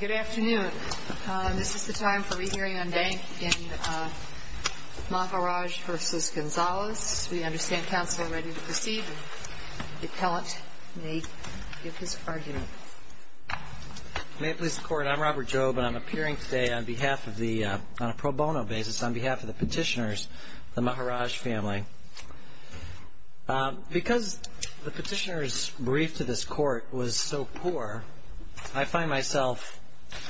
Good afternoon. This is the time for re-hearing on bank in Maharaj v. Gonzales. We understand counsel are ready to proceed and the appellant may give his argument. May it please the Court, I'm Robert Jobe and I'm appearing today on behalf of the, on a pro bono basis, on behalf of the petitioners, the Maharaj family. Because the petitioner's brief to this Court was so poor, I find myself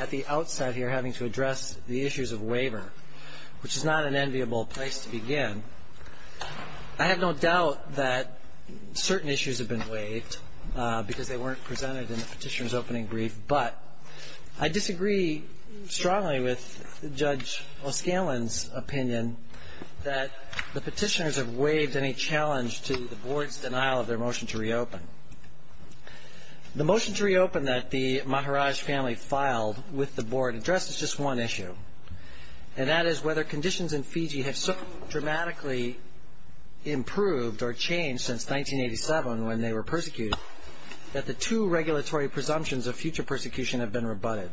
at the outset here having to address the issues of waiver, which is not an enviable place to begin. I have no doubt that certain issues have been waived because they weren't presented in the petitioner's opening brief, but I disagree strongly with Judge O'Scanlan's opinion that the petitioners have waived any challenge to the Board's denial of their motion to reopen. The motion to reopen that the Maharaj family filed with the Board addressed is just one issue, and that is whether conditions in Fiji have so dramatically improved or changed since 1987 when they were persecuted that the two regulatory presumptions of future persecution have been rebutted.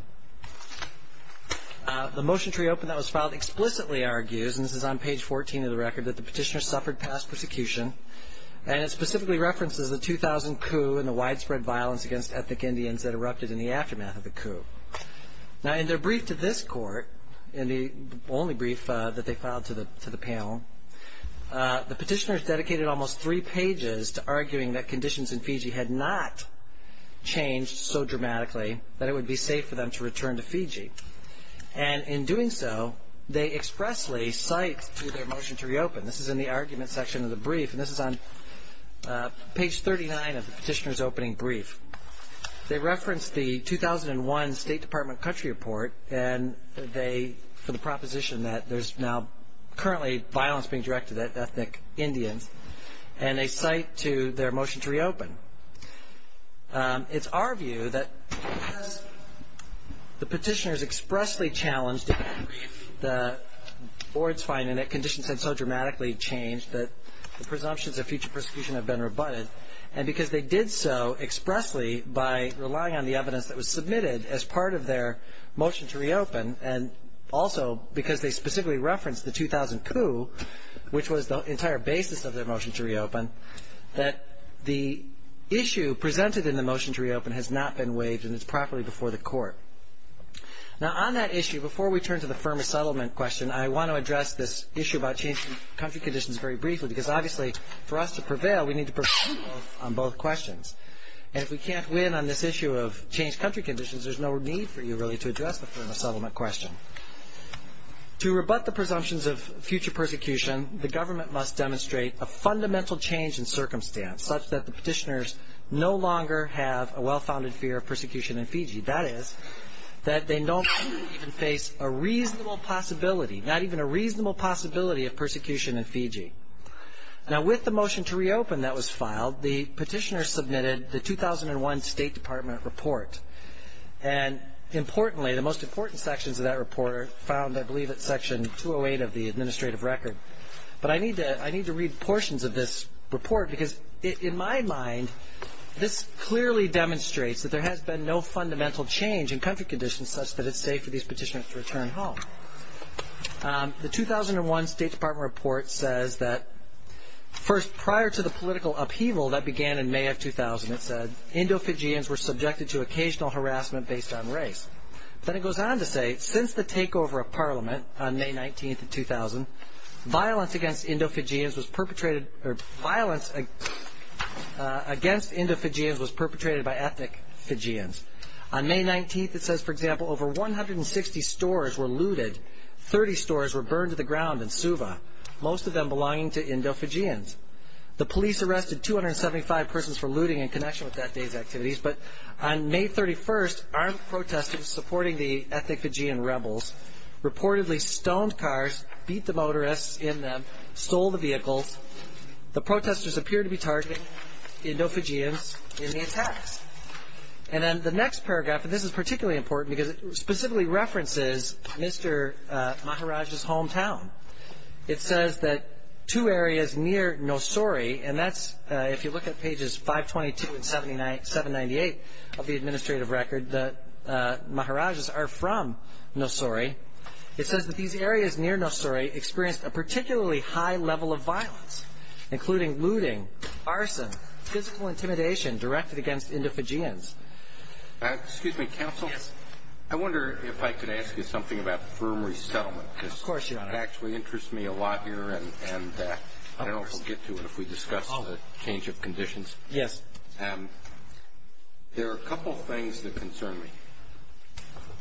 The motion to reopen that was filed explicitly argues, and this is on page 14 of the record, that the petitioners suffered past persecution, and it specifically references the 2000 coup and the widespread violence against ethnic Indians that erupted in the aftermath of the coup. Now, in their brief to this Court, in the only brief that they filed to the panel, the petitioners dedicated almost three pages to arguing that conditions in Fiji had not changed so dramatically that it would be safe for them to return to Fiji. And in doing so, they expressly cite to their motion to reopen. This is in the argument section of the brief, and this is on page 39 of the petitioner's opening brief. They reference the 2001 State Department country report for the proposition that there's now currently violence being directed at ethnic Indians, and they cite to their motion to reopen. It's our view that because the petitioners expressly challenged the Board's finding that conditions had so dramatically changed that the presumptions of future persecution have been rebutted, and because they did so expressly by relying on the evidence that was submitted as part of their motion to reopen, and also because they specifically referenced the 2000 coup, which was the entire basis of their motion to reopen, that the issue presented in the motion to reopen has not been waived, and it's properly before the Court. Now, on that issue, before we turn to the firmer settlement question, I want to address this issue about changing country conditions very briefly, because obviously for us to prevail, we need to prevail on both questions, and if we can't win on this issue of changed country conditions, there's no need for you really to address the firmer settlement question. To rebut the presumptions of future persecution, the government must demonstrate a fundamental change in circumstance such that the petitioners no longer have a well-founded fear of persecution in Fiji. That is, that they don't even face a reasonable possibility, not even a reasonable possibility of persecution in Fiji. Now, with the motion to reopen that was filed, the petitioners submitted the 2001 State Department report, and importantly, the most important sections of that report are found, I believe, at Section 208 of the administrative record. But I need to read portions of this report, because in my mind, this clearly demonstrates that there has been no fundamental change in country conditions such that it's safe for these petitioners to return home. The 2001 State Department report says that, first, prior to the political upheaval that began in May of 2000, it said, Indo-Fijians were subjected to occasional harassment based on race. Then it goes on to say, since the takeover of Parliament on May 19th of 2000, violence against Indo-Fijians was perpetrated by ethnic Fijians. On May 19th, it says, for example, over 160 stores were looted, 30 stores were burned to the ground in Suva, most of them belonging to Indo-Fijians. The police arrested 275 persons for looting in connection with that day's activities, but on May 31st, armed protesters supporting the ethnic Fijian rebels reportedly stoned cars, beat the motorists in them, stole the vehicles. The protesters appear to be targeting Indo-Fijians in the attacks. And then the next paragraph, and this is particularly important because it specifically references Mr. Maharaj's hometown. It says that two areas near Nosori, and that's, if you look at pages 522 and 798 of the administrative record, that Maharaj's are from Nosori. It says that these areas near Nosori experienced a particularly high level of violence, including looting, arson, physical intimidation directed against Indo-Fijians. Excuse me, Counsel. Yes. I wonder if I could ask you something about firm resettlement. Of course, Your Honor. Because it actually interests me a lot here, and I don't know if we'll get to it if we discuss the change of conditions. Yes. There are a couple things that concern me.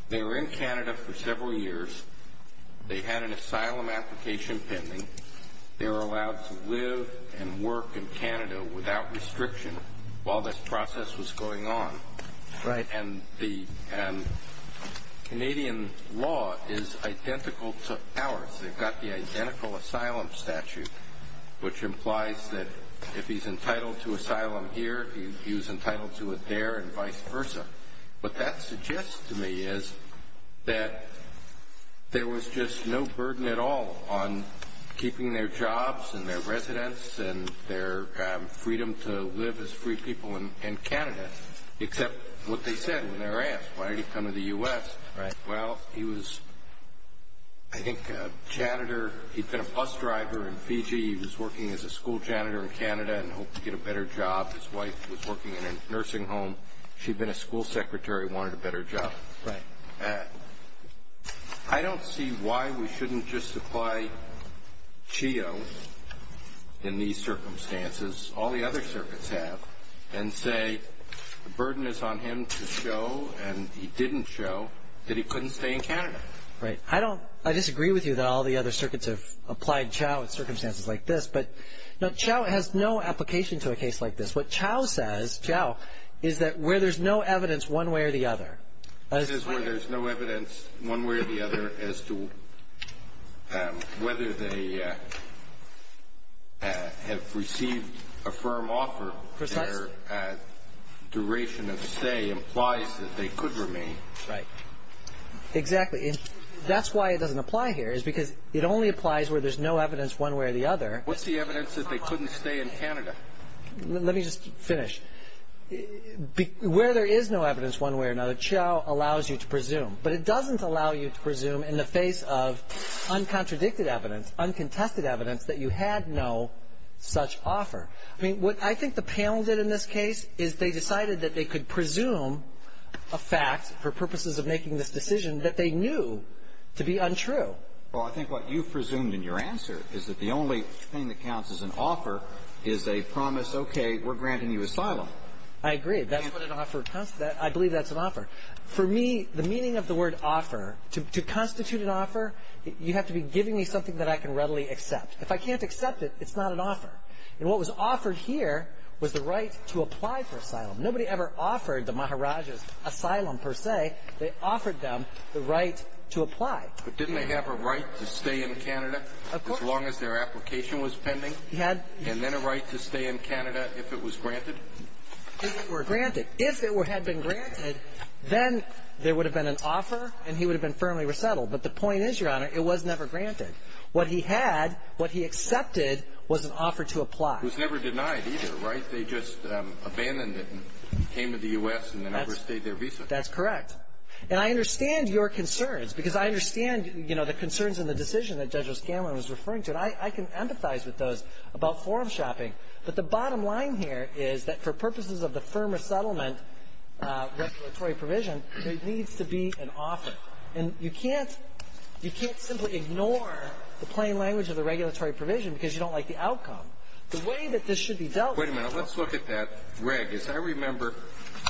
They were in Canada for several years. They had an asylum application pending. They were allowed to live and work in Canada without restriction while this process was going on. Right. And Canadian law is identical to ours. They've got the identical asylum statute, which implies that if he's entitled to asylum here, he's entitled to it there and vice versa. What that suggests to me is that there was just no burden at all on keeping their jobs and their residence and their freedom to live as free people in Canada, except what they said when they were asked, why did he come to the U.S.? Right. Well, he was, I think, a janitor. He'd been a bus driver in Fiji. He was working as a school janitor in Canada and hoped to get a better job. His wife was working in a nursing home. She'd been a school secretary and wanted a better job. Right. I don't see why we shouldn't just apply CHEO in these circumstances, all the other circuits have, and say the burden is on him to show and he didn't show that he couldn't stay in Canada. Right. I disagree with you that all the other circuits have applied CHEO in circumstances like this, but CHEO has no application to a case like this. What CHEO says, CHEO, is that where there's no evidence one way or the other. This is where there's no evidence one way or the other as to whether they have received a firm offer. Precisely. Their duration of stay implies that they could remain. Right. Exactly. That's why it doesn't apply here is because it only applies where there's no evidence one way or the other. What's the evidence that they couldn't stay in Canada? Let me just finish. Where there is no evidence one way or the other, CHEO allows you to presume, but it doesn't allow you to presume in the face of uncontradicted evidence, uncontested evidence, that you had no such offer. I mean, what I think the panel did in this case is they decided that they could presume a fact for purposes of making this decision that they knew to be untrue. Well, I think what you presumed in your answer is that the only thing that counts as an offer is a promise, okay, we're granting you asylum. I agree. I believe that's an offer. For me, the meaning of the word offer, to constitute an offer, you have to be giving me something that I can readily accept. If I can't accept it, it's not an offer. And what was offered here was the right to apply for asylum. Nobody ever offered the Maharajas asylum per se. They offered them the right to apply. But didn't they have a right to stay in Canada as long as their application was pending? And then a right to stay in Canada if it was granted? If it were granted. If it had been granted, then there would have been an offer and he would have been firmly resettled. But the point is, Your Honor, it was never granted. What he had, what he accepted, was an offer to apply. It was never denied either, right? They just abandoned it and came to the U.S. and then overstayed their visa. That's correct. And I understand your concerns because I understand, you know, the concerns and the decision that Judge O'Scanlan was referring to. And I can empathize with those about forum shopping. But the bottom line here is that for purposes of the firm resettlement regulatory provision, there needs to be an offer. And you can't simply ignore the plain language of the regulatory provision because you don't like the outcome. The way that this should be dealt with. Wait a minute. Let's look at that reg. As I remember,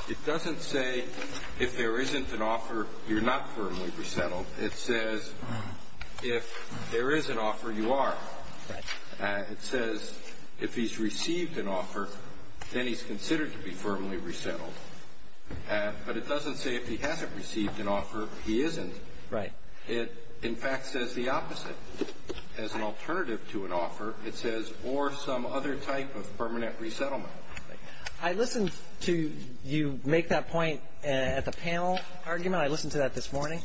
it doesn't say if there isn't an offer, you're not firmly resettled. It says if there is an offer, you are. Right. It says if he's received an offer, then he's considered to be firmly resettled. But it doesn't say if he hasn't received an offer, he isn't. Right. It, in fact, says the opposite. As an alternative to an offer, it says or some other type of permanent resettlement. I listened to you make that point at the panel argument. I listened to that this morning.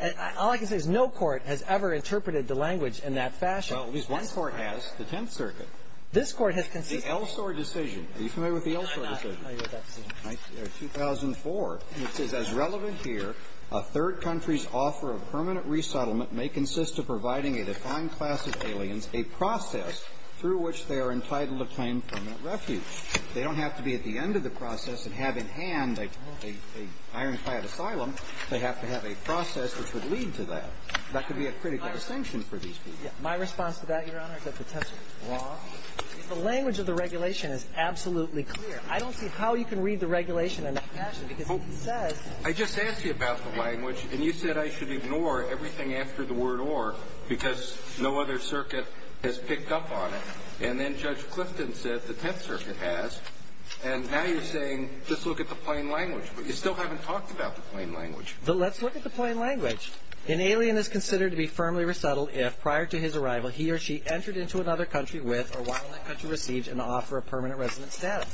And all I can say is no court has ever interpreted the language in that fashion. Well, at least one court has, the Tenth Circuit. This Court has consistently. The Elsor decision. Are you familiar with the Elsor decision? I'm not familiar with that decision. 2004. It says as relevant here, a third country's offer of permanent resettlement may consist of providing a defined class of aliens a process through which they are entitled to claim permanent refuge. They don't have to be at the end of the process and have in hand a ironclad asylum. They have to have a process which would lead to that. That could be a critical distinction for these people. My response to that, Your Honor, is that the Tenth Circuit is wrong. The language of the regulation is absolutely clear. I don't see how you can read the regulation in that fashion because it says — I just asked you about the language, and you said I should ignore everything after the word or because no other circuit has picked up on it. And then Judge Clifton said the Tenth Circuit has. And now you're saying just look at the plain language. But you still haven't talked about the plain language. But let's look at the plain language. An alien is considered to be firmly resettled if, prior to his arrival, he or she entered into another country with or while in that country received an offer of permanent resident status.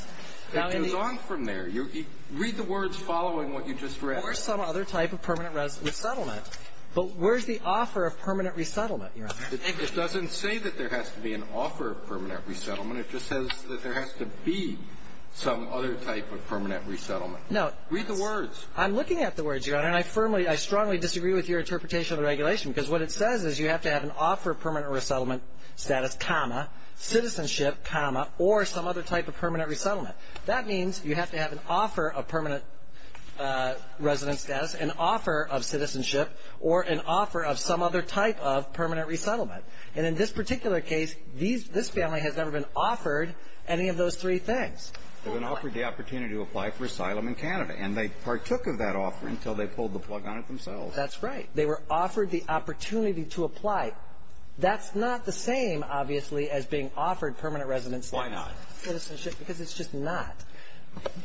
It goes on from there. Read the words following what you just read. Or some other type of permanent resettlement. But where's the offer of permanent resettlement, Your Honor? It doesn't say that there has to be an offer of permanent resettlement. It just says that there has to be some other type of permanent resettlement. Read the words. I'm looking at the words, Your Honor, and I firmly — I strongly disagree with your interpretation of the regulation because what it says is you have to have an offer of permanent resettlement status, comma, citizenship, comma, or some other type of permanent resettlement. That means you have to have an offer of permanent resident status, an offer of citizenship, or an offer of some other type of permanent resettlement. And in this particular case, this family has never been offered any of those three things. They've been offered the opportunity to apply for asylum in Canada, and they partook of that offer until they pulled the plug on it themselves. That's right. They were offered the opportunity to apply. That's not the same, obviously, as being offered permanent resident status. Why not? Because it's just not.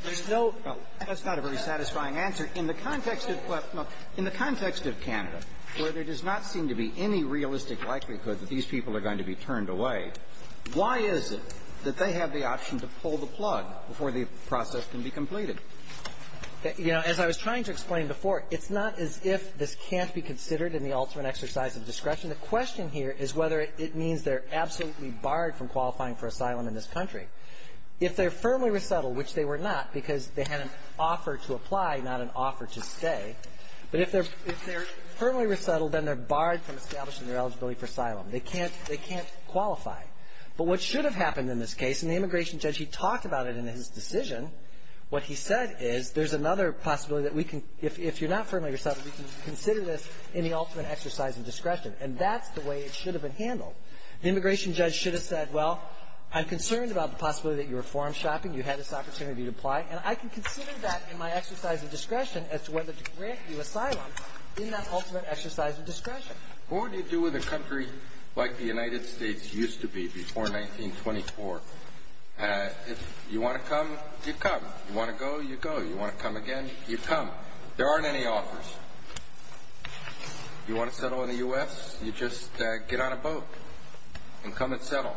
There's no — Well, that's not a very satisfying answer. In the context of Canada, where there does not seem to be any realistic likelihood that these people are going to be turned away, why is it that they have the option to pull the plug before the process can be completed? You know, as I was trying to explain before, it's not as if this can't be considered in the ultimate exercise of discretion. The question here is whether it means they're absolutely barred from qualifying for asylum in this country. If they're firmly resettled, which they were not because they had an offer to apply, not an offer to stay, but if they're firmly resettled, then they're barred from establishing their eligibility for asylum. They can't qualify. But what should have happened in this case, and the immigration judge, he talked about it in his decision, what he said is, there's another possibility that we can — if you're not firmly resettled, we can consider this in the ultimate exercise of discretion. And that's the way it should have been handled. The immigration judge should have said, well, I'm concerned about the possibility that you were forum shopping, you had this opportunity to apply, and I can consider that in my exercise of discretion as to whether to grant you asylum in that ultimate exercise of discretion. What would you do with a country like the United States used to be before 1924? If you want to come, you'd come. You want to go, you'd go. You want to come again, you'd come. There aren't any offers. You want to settle in the U.S.? You just get on a boat and come and settle.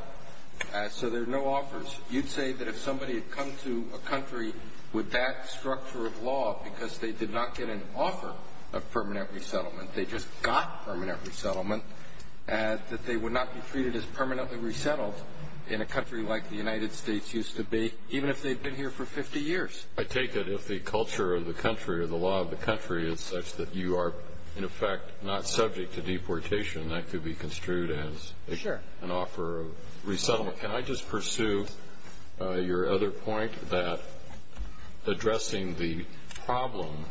So there are no offers. You'd say that if somebody had come to a country with that structure of law because they did not get an offer of permanent resettlement, they just got permanent resettlement, that they would not be treated as permanently resettled in a country like the United States used to be, even if they'd been here for 50 years. I take it if the culture of the country or the law of the country is such that you are, in effect, not subject to deportation, that could be construed as an offer of resettlement. Can I just pursue your other point that addressing the problem,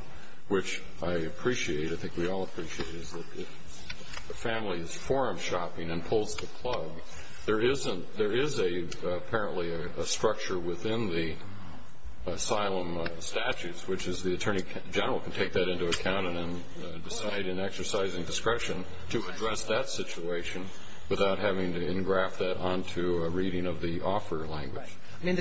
which I appreciate and I think we all appreciate, is that if a family is forum shopping and pulls the plug, there is apparently a structure within the asylum statutes, which is the Attorney General can take that into account and then decide in exercising discretion to address that situation without having to engraft that onto a reading of the offer language. Right. I mean,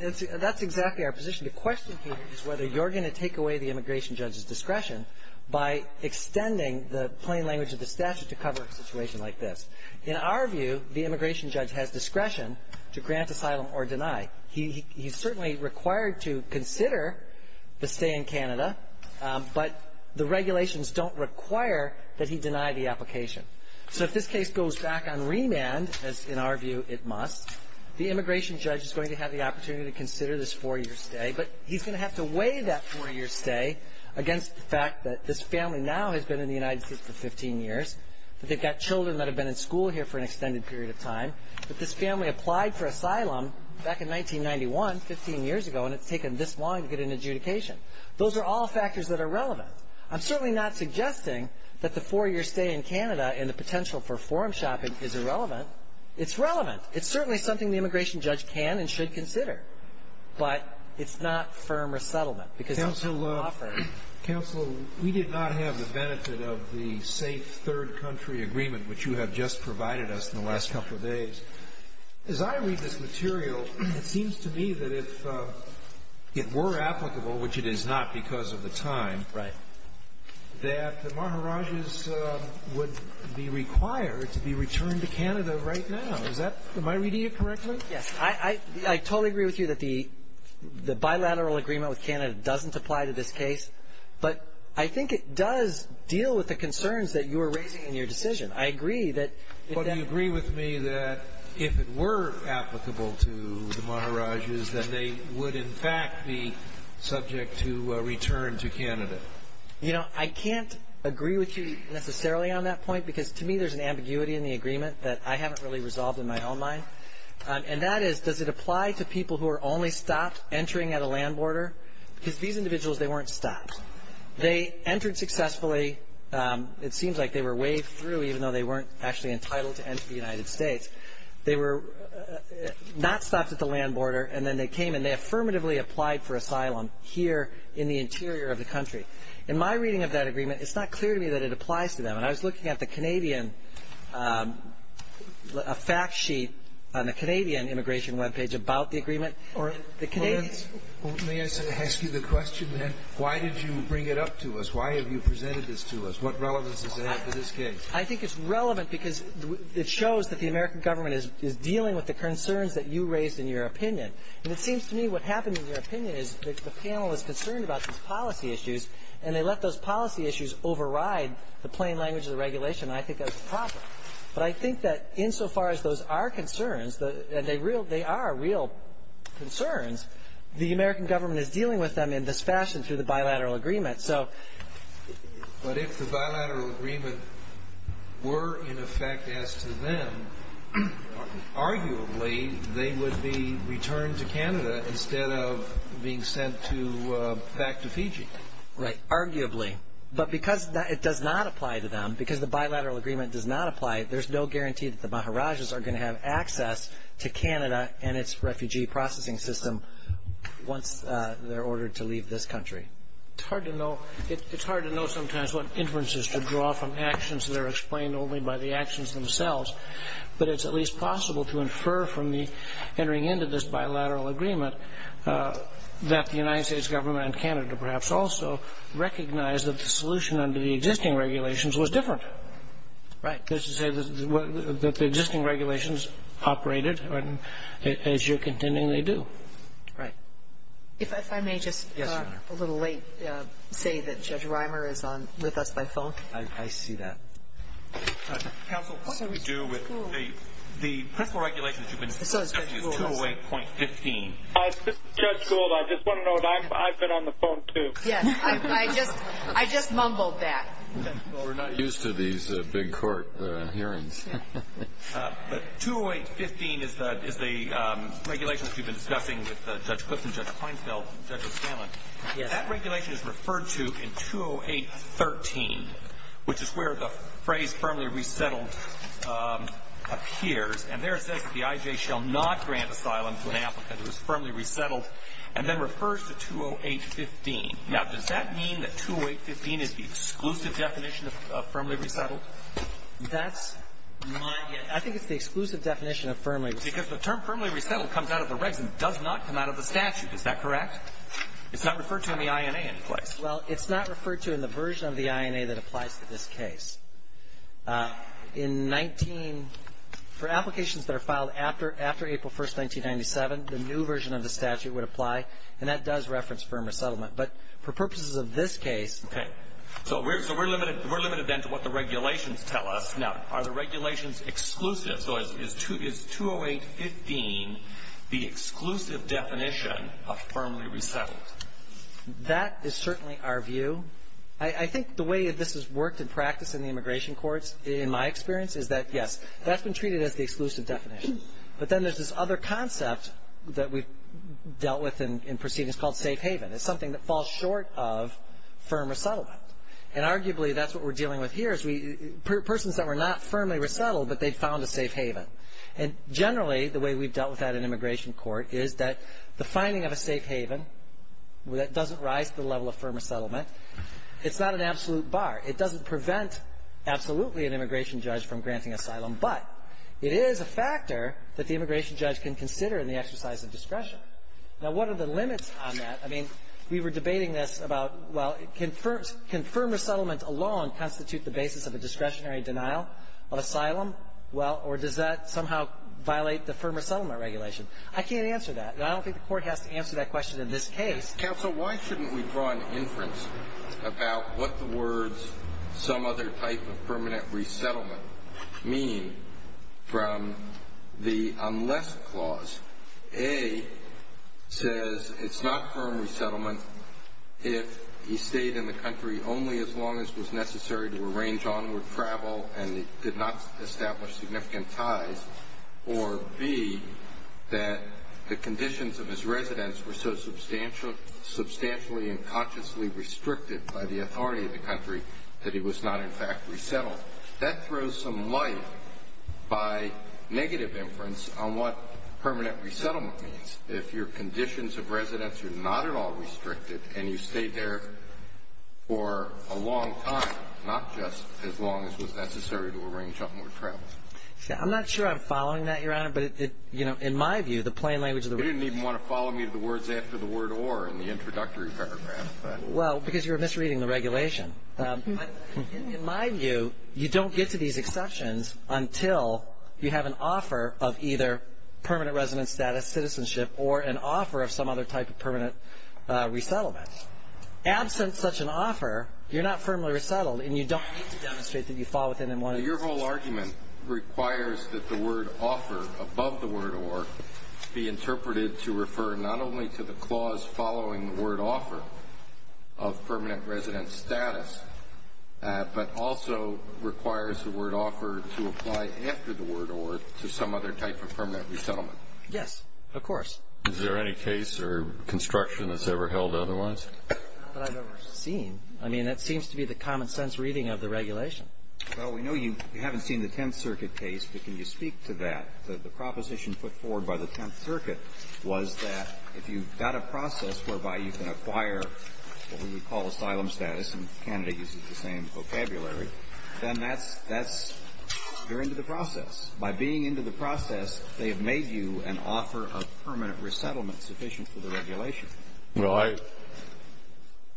that's exactly our position. The question here is whether you're going to take away the immigration judge's discretion by extending the plain language of the statute to cover a situation like this. In our view, the immigration judge has discretion to grant asylum or deny. He's certainly required to consider the stay in Canada, but the regulations don't require that he deny the application. So if this case goes back on remand, as in our view it must, the immigration judge is going to have the opportunity to consider this four-year stay, but he's going to have to weigh that four-year stay against the fact that this family now has been in the United States for 15 years, that they've got children that have been in school here for an extended period of time, that this family applied for asylum back in 1991, 15 years ago, and it's taken this long to get an adjudication. Those are all factors that are relevant. I'm certainly not suggesting that the four-year stay in Canada and the potential for forum shopping is irrelevant. It's relevant. It's certainly something the immigration judge can and should consider, but it's not firm resettlement because it's not an offer. Counsel, we did not have the benefit of the safe third country agreement which you have just provided us in the last couple of days. As I read this material, it seems to me that if it were applicable, which it is not because of the time, that the Maharajahs would be required to be returned to Canada right now. Is that my reading of it correctly? Yes. I totally agree with you that the bilateral agreement with Canada doesn't apply to this case, but I think it does deal with the concerns that you are raising in your decision. I agree that if that But do you agree with me that if it were applicable to the Maharajahs, that they would in fact be subject to return to Canada? You know, I can't agree with you necessarily on that point because to me there's an And that is, does it apply to people who are only stopped entering at a land border? Because these individuals, they weren't stopped. They entered successfully. It seems like they were waved through even though they weren't actually entitled to enter the United States. They were not stopped at the land border and then they came and they affirmatively applied for asylum here in the interior of the country. In my reading of that agreement, it's not clear to me that it applies to them. And I was looking at the Canadian, a fact sheet on the Canadian immigration webpage about the agreement. May I ask you the question, then? Why did you bring it up to us? Why have you presented this to us? What relevance does it have to this case? I think it's relevant because it shows that the American government is dealing with the concerns that you raised in your opinion. And it seems to me what happened in your opinion is that the panel is concerned about these policy issues and they let those policy issues override the plain language of the regulation. I think that's a problem. But I think that insofar as those are concerns, and they are real concerns, the American government is dealing with them in this fashion through the bilateral agreement. But if the bilateral agreement were in effect as to them, arguably, they would be returned to Canada instead of being sent back to Fiji. Right. Arguably. Arguably. But because it does not apply to them, because the bilateral agreement does not apply, there's no guarantee that the Maharajas are going to have access to Canada and its refugee processing system once they're ordered to leave this country. It's hard to know sometimes what inferences to draw from actions that are explained only by the actions themselves. But it's at least possible to infer from entering into this bilateral agreement that the United States government and Canada perhaps also recognize that the solution under the existing regulations was different. Right. That the existing regulations operated as you're contending they do. Right. If I may just a little late say that Judge Reimer is with us by phone. I see that. Counsel, what did you do with the principle regulation that you've been discussing with Judge Clifton, Judge Feinfeld, and Judge O'Scanlan? That regulation is referred to in 208.13, which is where the phrase firmly resettled appears. And there it says that the IJ shall not grant asylum to an applicant who is And it's referred to in 208.13. And then refers to 208.15. Now, does that mean that 208.15 is the exclusive definition of firmly resettled? That's my guess. I think it's the exclusive definition of firmly resettled. Because the term firmly resettled comes out of the regs and does not come out of the statute. Is that correct? It's not referred to in the INA any place. Well, it's not referred to in the version of the INA that applies to this case. In 19 — for applications that are filed after April 1st, 1997, the new version of the statute would apply. And that does reference firm resettlement. But for purposes of this case — Okay. So we're limited then to what the regulations tell us. Now, are the regulations exclusive? So is 208.15 the exclusive definition of firmly resettled? That is certainly our view. I think the way this has worked in practice in the immigration courts, in my experience, is that, yes, that's been treated as the exclusive definition. But then there's this other concept that we've dealt with in proceedings called safe haven. It's something that falls short of firm resettlement. And arguably, that's what we're dealing with here is we — persons that were not firmly resettled, but they found a safe haven. And generally, the way we've dealt with that in immigration court is that the finding of a safe haven that doesn't rise to the level of firm resettlement, it's not an absolute bar. It doesn't prevent absolutely an immigration judge from granting asylum. But it is a factor that the immigration judge can consider in the exercise of discretion. Now, what are the limits on that? I mean, we were debating this about, well, can firm resettlement alone constitute the basis of a discretionary denial of asylum? Well, or does that somehow violate the firm resettlement regulation? I can't answer that. And I don't think the Court has to answer that question in this case. Counsel, why shouldn't we draw an inference about what the words some other type of permanent resettlement mean from the unless clause? A, says it's not firm resettlement if he stayed in the country only as long as it was necessary to arrange onward travel and did not establish significant ties, or B, that the conditions of his residence were so substantially and consciously restricted by the authority of the country that he was not, in fact, resettled. That throws some light by negative inference on what permanent resettlement means. If your conditions of residence are not at all restricted and you stayed there for a long time, not just as long as was necessary to arrange onward travel. I'm not sure I'm following that, Your Honor. But, you know, in my view, the plain language of the word. You didn't even want to follow me to the words after the word or in the introductory paragraph. Well, because you're misreading the regulation. In my view, you don't get to these exceptions until you have an offer of either permanent residence status, citizenship, or an offer of some other type of permanent resettlement. Absent such an offer, you're not firmly resettled, and you don't need to demonstrate that you fall within one of these. Your whole argument requires that the word offer above the word or be interpreted to refer not only to the clause following the word offer of permanent residence status, but also requires the word offer to apply after the word or to some other type of permanent resettlement. Yes. Of course. Is there any case or construction that's ever held otherwise? Not that I've ever seen. I mean, that seems to be the common-sense reading of the regulation. Well, we know you haven't seen the Tenth Circuit case, but can you speak to that? The proposition put forward by the Tenth Circuit was that if you've got a process whereby you can acquire what we would call asylum status, and Kennedy uses the same vocabulary, then that's you're into the process. By being into the process, they have made you an offer of permanent resettlement sufficient for the regulation. Well,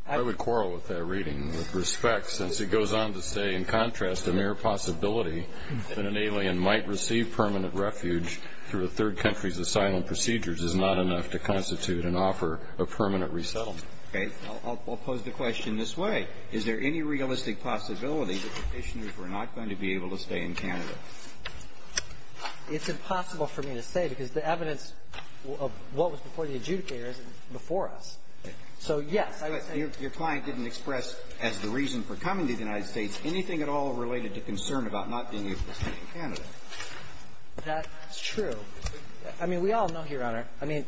I would quarrel with that reading with respect, since it goes on to say, in contrast, a mere possibility that an alien might receive permanent refuge through a third country's asylum procedures is not enough to constitute an offer of permanent resettlement. Okay. I'll pose the question this way. Is there any realistic possibility that the petitioners were not going to be able to stay in Canada? It's impossible for me to say, because the evidence of what was before the adjudicator isn't before us. So, yes. Your client didn't express as the reason for coming to the United States anything at all related to concern about not being able to stay in Canada. That's true. I mean, we all know here, Your Honor, I mean,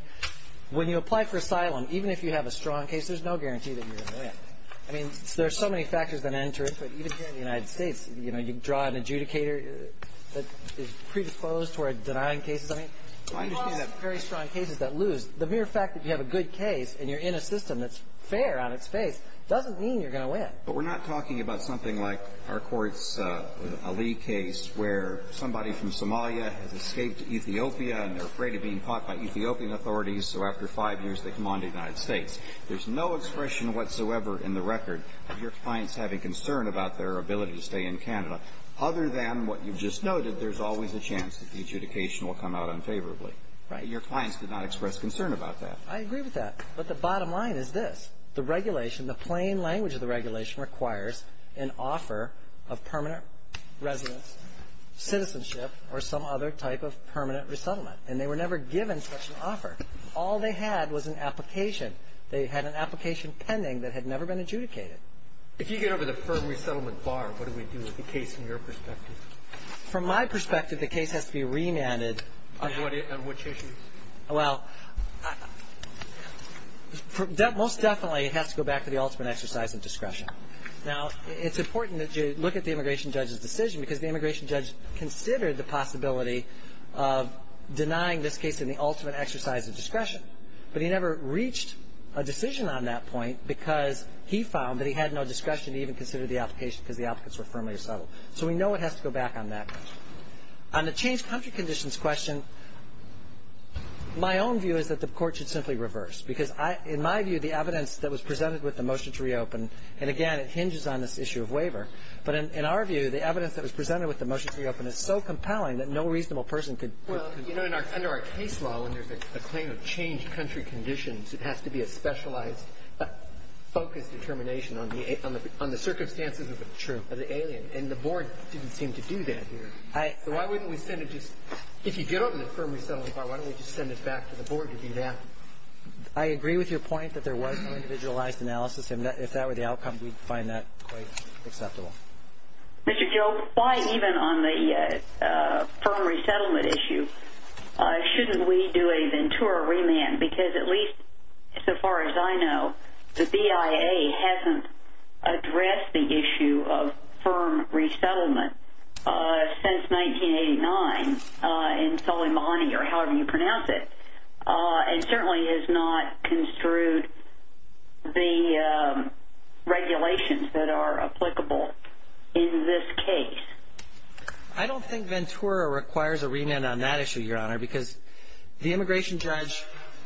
when you apply for asylum, even if you have a strong case, there's no guarantee that you're going to win. I mean, there's so many factors that enter it, but even here in the United States, you know, you draw an adjudicator that is predisposed toward denying cases. I mean, you have very strong cases that lose. The mere fact that you have a good case and you're in a system that's fair on its face doesn't mean you're going to win. But we're not talking about something like our court's Ali case where somebody from Somalia has escaped to Ethiopia and they're afraid of being caught by Ethiopian authorities, so after five years they come on to the United States. There's no expression whatsoever in the record of your clients having concern about their ability to stay in Canada, other than what you've just noted, there's always a chance that the adjudication will come out unfavorably. Right. But your clients did not express concern about that. I agree with that. But the bottom line is this. The regulation, the plain language of the regulation requires an offer of permanent residence, citizenship, or some other type of permanent resettlement. And they were never given such an offer. All they had was an application. They had an application pending that had never been adjudicated. If you get over the firm resettlement bar, what do we do with the case from your perspective? From my perspective, the case has to be remanded. On what issue? Well, most definitely it has to go back to the ultimate exercise of discretion. Now, it's important that you look at the immigration judge's decision because the immigration judge considered the possibility of denying this case in the ultimate exercise of discretion, but he never reached a decision on that point because he found that he had no discretion to even consider the application because the court has to go back on that. On the changed country conditions question, my own view is that the court should simply reverse. Because in my view, the evidence that was presented with the motion to reopen, and again, it hinges on this issue of waiver. But in our view, the evidence that was presented with the motion to reopen is so compelling that no reasonable person could. Well, you know, under our case law, when there's a claim of changed country conditions, it has to be a specialized, focused determination on the circumstances of the alien. And the board didn't seem to do that here. So why wouldn't we send it just – if you get on the firm resettlement part, why don't we just send it back to the board to do that? I agree with your point that there was no individualized analysis. If that were the outcome, we'd find that quite acceptable. Mr. Joe, why even on the firm resettlement issue shouldn't we do a Ventura remand? Because at least so far as I know, the BIA hasn't addressed the issue of firm resettlement since 1989 in Soleimani, or however you pronounce it, and certainly has not construed the regulations that are applicable in this case. I don't think Ventura requires a remand on that issue, Your Honor, because the board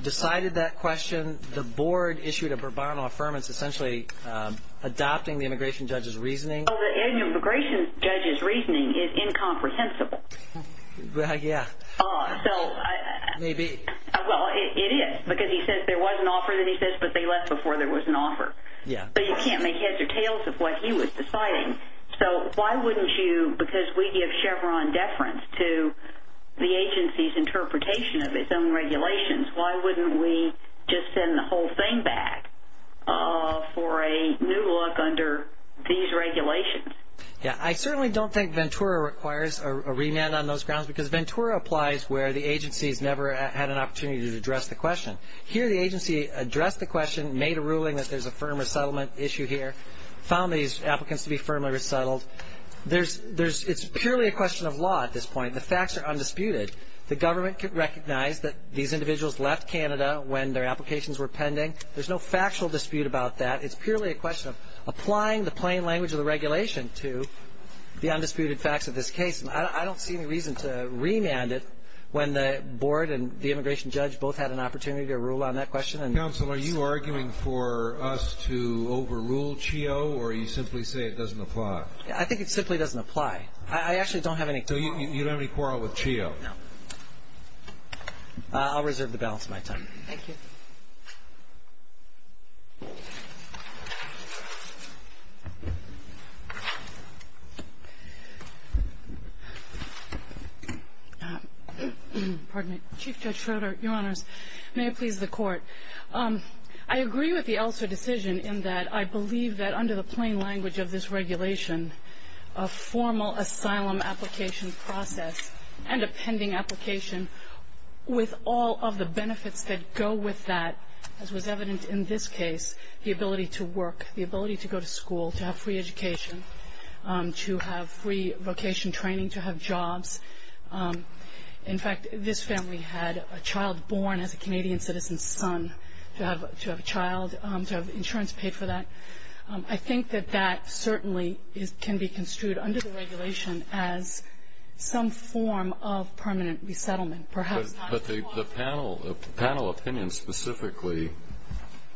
decided that question. The board issued a pro bono affirmance essentially adopting the immigration judge's reasoning. Oh, the immigration judge's reasoning is incomprehensible. Yeah. Maybe. Well, it is, because he says there was an offer that he says, but they left before there was an offer. Yeah. But you can't make heads or tails of what he was deciding. So why wouldn't you – because we give Chevron deference to the agency's own regulations. Why wouldn't we just send the whole thing back for a new look under these regulations? Yeah. I certainly don't think Ventura requires a remand on those grounds because Ventura applies where the agency's never had an opportunity to address the question. Here the agency addressed the question, made a ruling that there's a firm resettlement issue here, found these applicants to be firmly resettled. It's purely a question of law at this point. The facts are undisputed. The government can recognize that these individuals left Canada when their applications were pending. There's no factual dispute about that. It's purely a question of applying the plain language of the regulation to the undisputed facts of this case. I don't see any reason to remand it when the board and the immigration judge both had an opportunity to rule on that question. Counsel, are you arguing for us to overrule CHEO or you simply say it doesn't apply? I think it simply doesn't apply. I actually don't have any – So you don't have any quarrel with CHEO? No. I'll reserve the balance of my time. Thank you. Pardon me. Chief Judge Schroeder, Your Honors, may it please the Court. I agree with the Elsa decision in that I believe that under the plain language of this regulation, a formal asylum application process and a pending application with all of the benefits that go with that, as was evident in this case, the ability to work, the ability to go to school, to have free education, to have free vocation training, to have jobs. In fact, this family had a child born as a Canadian citizen's son, to have a child, to have insurance paid for that. I think that that certainly can be construed under the regulation as some form of permanent resettlement. But the panel opinion specifically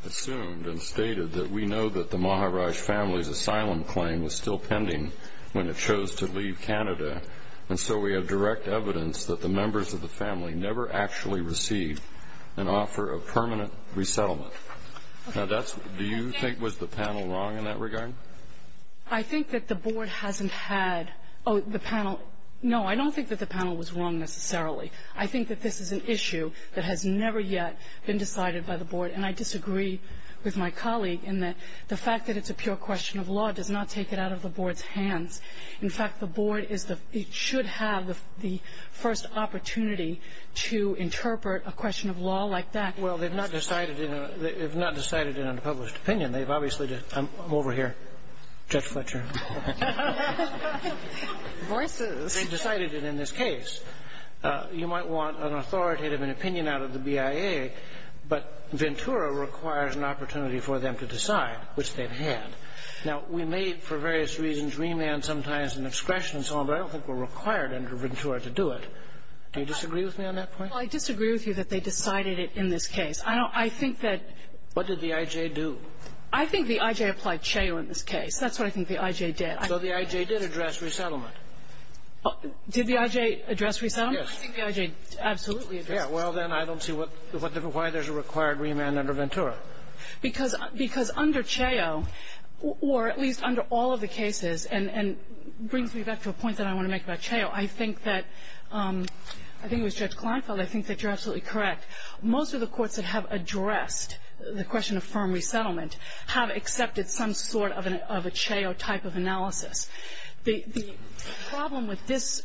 assumed and stated that we know that the Maharaj family's asylum claim was still pending when it chose to leave Canada, and so we have direct evidence that the members of the family never actually received an offer of permanent resettlement. Do you think was the panel wrong in that regard? I think that the board hasn't had the panel. No, I don't think that the panel was wrong necessarily. I think that this is an issue that has never yet been decided by the board, and I disagree with my colleague in that the fact that it's a pure question of law does not take it out of the board's hands. In fact, the board should have the first opportunity to interpret a question of law like that. Well, they've not decided in a published opinion. They've obviously just – I'm over here. Judge Fletcher. Divorces. They've decided it in this case. You might want an authoritative opinion out of the BIA, but Ventura requires an opportunity for them to decide, which they've had. Now, we may for various reasons remand sometimes an excretion and so on, but I don't think we're required under Ventura to do it. Do you disagree with me on that point? Well, I disagree with you that they decided it in this case. I don't – I think that – What did the I.J. do? I think the I.J. applied CHEO in this case. That's what I think the I.J. did. So the I.J. did address resettlement. Did the I.J. address resettlement? Yes. I think the I.J. absolutely addressed it. Yeah. Well, then I don't see what – why there's a required remand under Ventura. Because under CHEO, or at least under all of the cases, and it brings me back to a point that I want to make about CHEO, I think that – I think it was Judge Kleinfeld. I think that you're absolutely correct. Most of the courts that have addressed the question of firm resettlement have accepted some sort of a CHEO type of analysis. The problem with this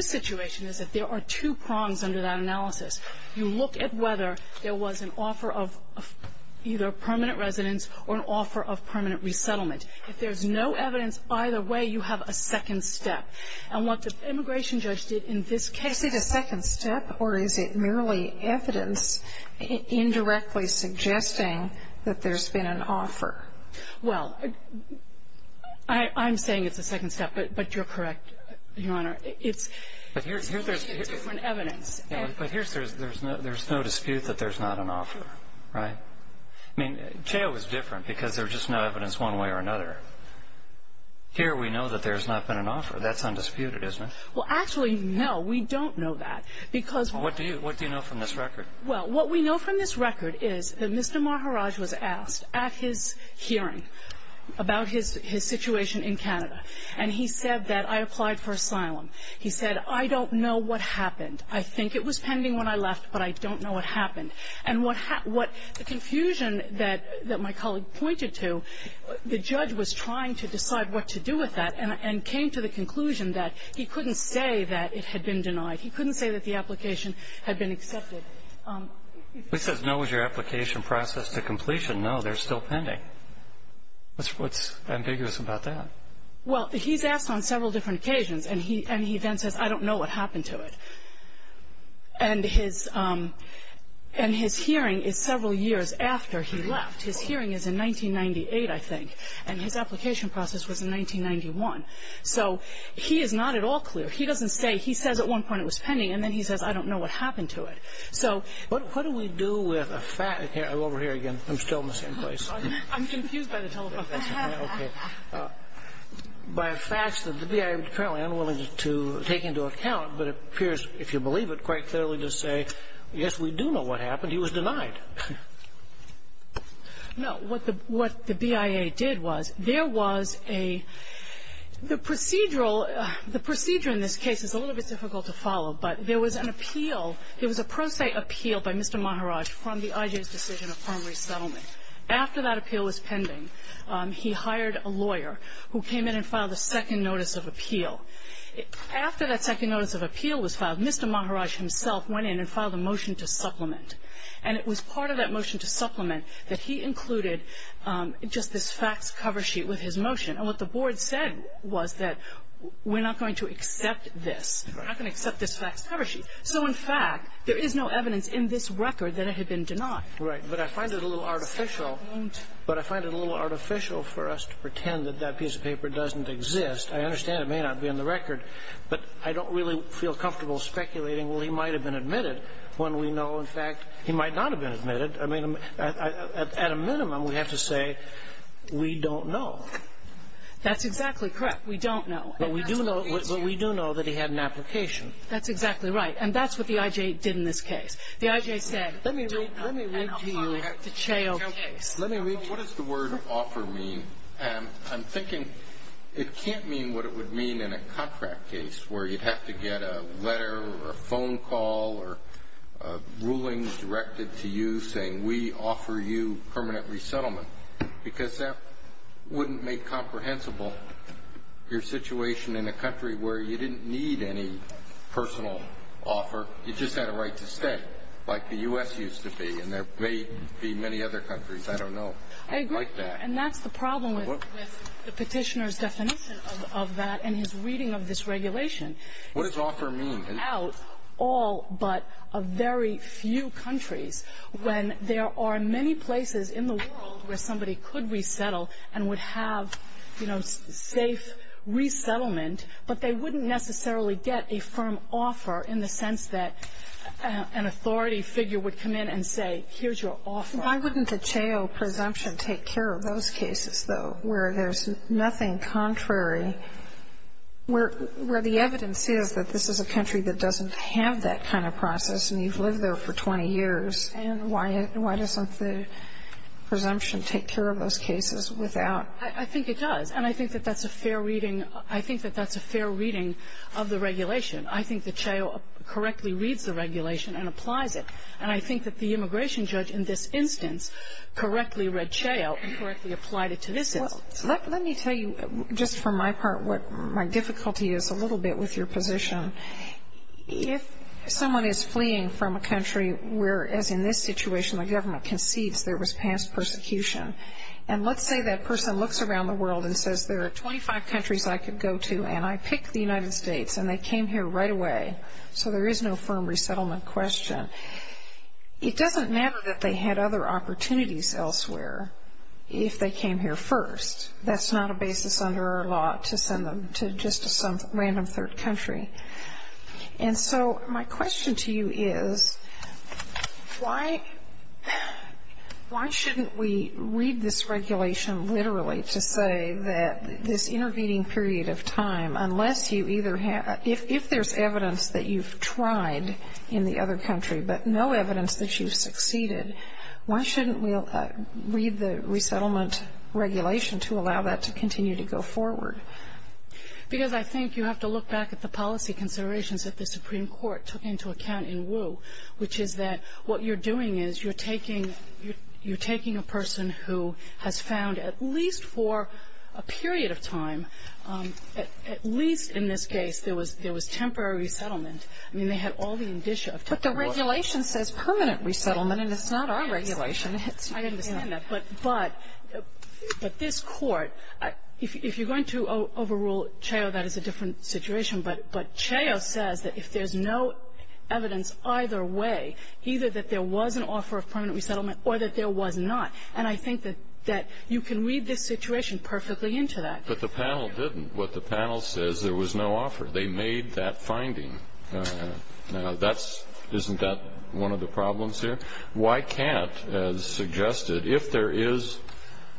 situation is that there are two prongs under that analysis. You look at whether there was an offer of either permanent residence or an offer of permanent resettlement. If there's no evidence either way, you have a second step. And what the immigration judge did in this case is – Is it a second step, or is it merely evidence indirectly suggesting that there's been an offer? Well, I'm saying it's a second step, but you're correct, Your Honor. It's a different evidence. But here's – there's no dispute that there's not an offer, right? I mean, CHEO is different because there's just no evidence one way or another. Here we know that there's not been an offer. That's undisputed, isn't it? Well, actually, no, we don't know that because – Well, what do you know from this record? Well, what we know from this record is that Mr. Maharaj was asked at his hearing about his situation in Canada, and he said that I applied for asylum. He said, I don't know what happened. I think it was pending when I left, but I don't know what happened. And what – the confusion that my colleague pointed to, the judge was trying to decide what to do with that and came to the conclusion that he couldn't say that it had been denied. He couldn't say that the application had been accepted. If he says, no, was your application processed to completion, no, they're still pending. What's ambiguous about that? Well, he's asked on several different occasions, and he then says, I don't know what happened to it. And his – and his hearing is several years after he left. His hearing is in 1998, I think, and his application process was in 1991. So he is not at all clear. He doesn't say – he says at one point it was pending, and then he says, I don't know what happened to it. So – But what do we do with a – over here again. I'm still in the same place. I'm confused by the telephone. Okay. By a fact that the BIA was apparently unwilling to take into account but appears, if you believe it, quite clearly to say, yes, we do know what happened. He was denied. No. What the – what the BIA did was there was a – the procedural – the procedure in this case is a little bit difficult to follow, but there was an appeal. There was a pro se appeal by Mr. Maharaj from the IJ's decision of primary settlement. After that appeal was pending, he hired a lawyer who came in and filed a second notice of appeal. After that second notice of appeal was filed, Mr. Maharaj himself went in and filed a motion to supplement. And it was part of that motion to supplement that he included just this facts cover sheet with his motion. And what the board said was that we're not going to accept this. We're not going to accept this facts cover sheet. So, in fact, there is no evidence in this record that it had been denied. Right. But I find it a little artificial. But I find it a little artificial for us to pretend that that piece of paper doesn't exist. I understand it may not be in the record, but I don't really feel comfortable speculating, well, he might have been admitted, when we know, in fact, he might not have been admitted. I mean, at a minimum, we have to say we don't know. That's exactly correct. We don't know. But we do know that he had an application. That's exactly right. And that's what the IJ did in this case. The IJ said, we don't know. Let me read to you the Chao case. Let me read to you. What does the word offer mean? I'm thinking it can't mean what it would mean in a contract case where you'd have to get a letter or a phone call or a ruling directed to you saying, we offer you permanent resettlement, because that wouldn't make comprehensible your situation in a country where you didn't need any personal offer, you just had a right to stay. Like the U.S. used to be, and there may be many other countries. I don't know. I don't like that. I agree. And that's the problem with the Petitioner's definition of that and his reading of this regulation. What does offer mean? In all but a very few countries, when there are many places in the world where somebody could resettle and would have, you know, safe resettlement, but they wouldn't necessarily get a firm offer in the sense that an authority figure would come in and say, here's your offer. Why wouldn't the Chao presumption take care of those cases, though, where there's nothing contrary, where the evidence is that this is a country that doesn't have that kind of process and you've lived there for 20 years, and why doesn't the presumption take care of those cases without? I think it does. And I think that that's a fair reading. I think that that's a fair reading of the regulation. I think that Chao correctly reads the regulation and applies it. And I think that the immigration judge in this instance correctly read Chao and correctly applied it to this instance. Let me tell you just from my part what my difficulty is a little bit with your position. If someone is fleeing from a country where, as in this situation, the government concedes there was past persecution, and let's say that person looks around the world and says there are 25 countries I could go to, and I pick the United States, and they came here right away, so there is no firm resettlement question. It doesn't matter that they had other opportunities elsewhere if they came here first. That's not a basis under our law to send them to just some random third country. And so my question to you is, why shouldn't we read this regulation literally to say that this intervening period of time, unless you either have ‑‑ if there's evidence that you've tried in the other country but no evidence that you've succeeded, why shouldn't we read the resettlement regulation to allow that to continue to go forward? Because I think you have to look back at the policy considerations that the Supreme Court took into account in Wu, which is that what you're doing is you're taking a person who has found at least for a period of time, at least in this case, there was temporary resettlement. I mean, they had all the indicia of temporary warrants. But the regulation says permanent resettlement, and it's not our regulation. I understand that. But this Court, if you're going to overrule CHAO, that is a different situation. But CHAO says that if there's no evidence either way, either that there was an offer of permanent resettlement or that there was not. And I think that you can read this situation perfectly into that. But the panel didn't. What the panel says, there was no offer. They made that finding. Now, that's ‑‑ isn't that one of the problems here? Why can't, as suggested, if there is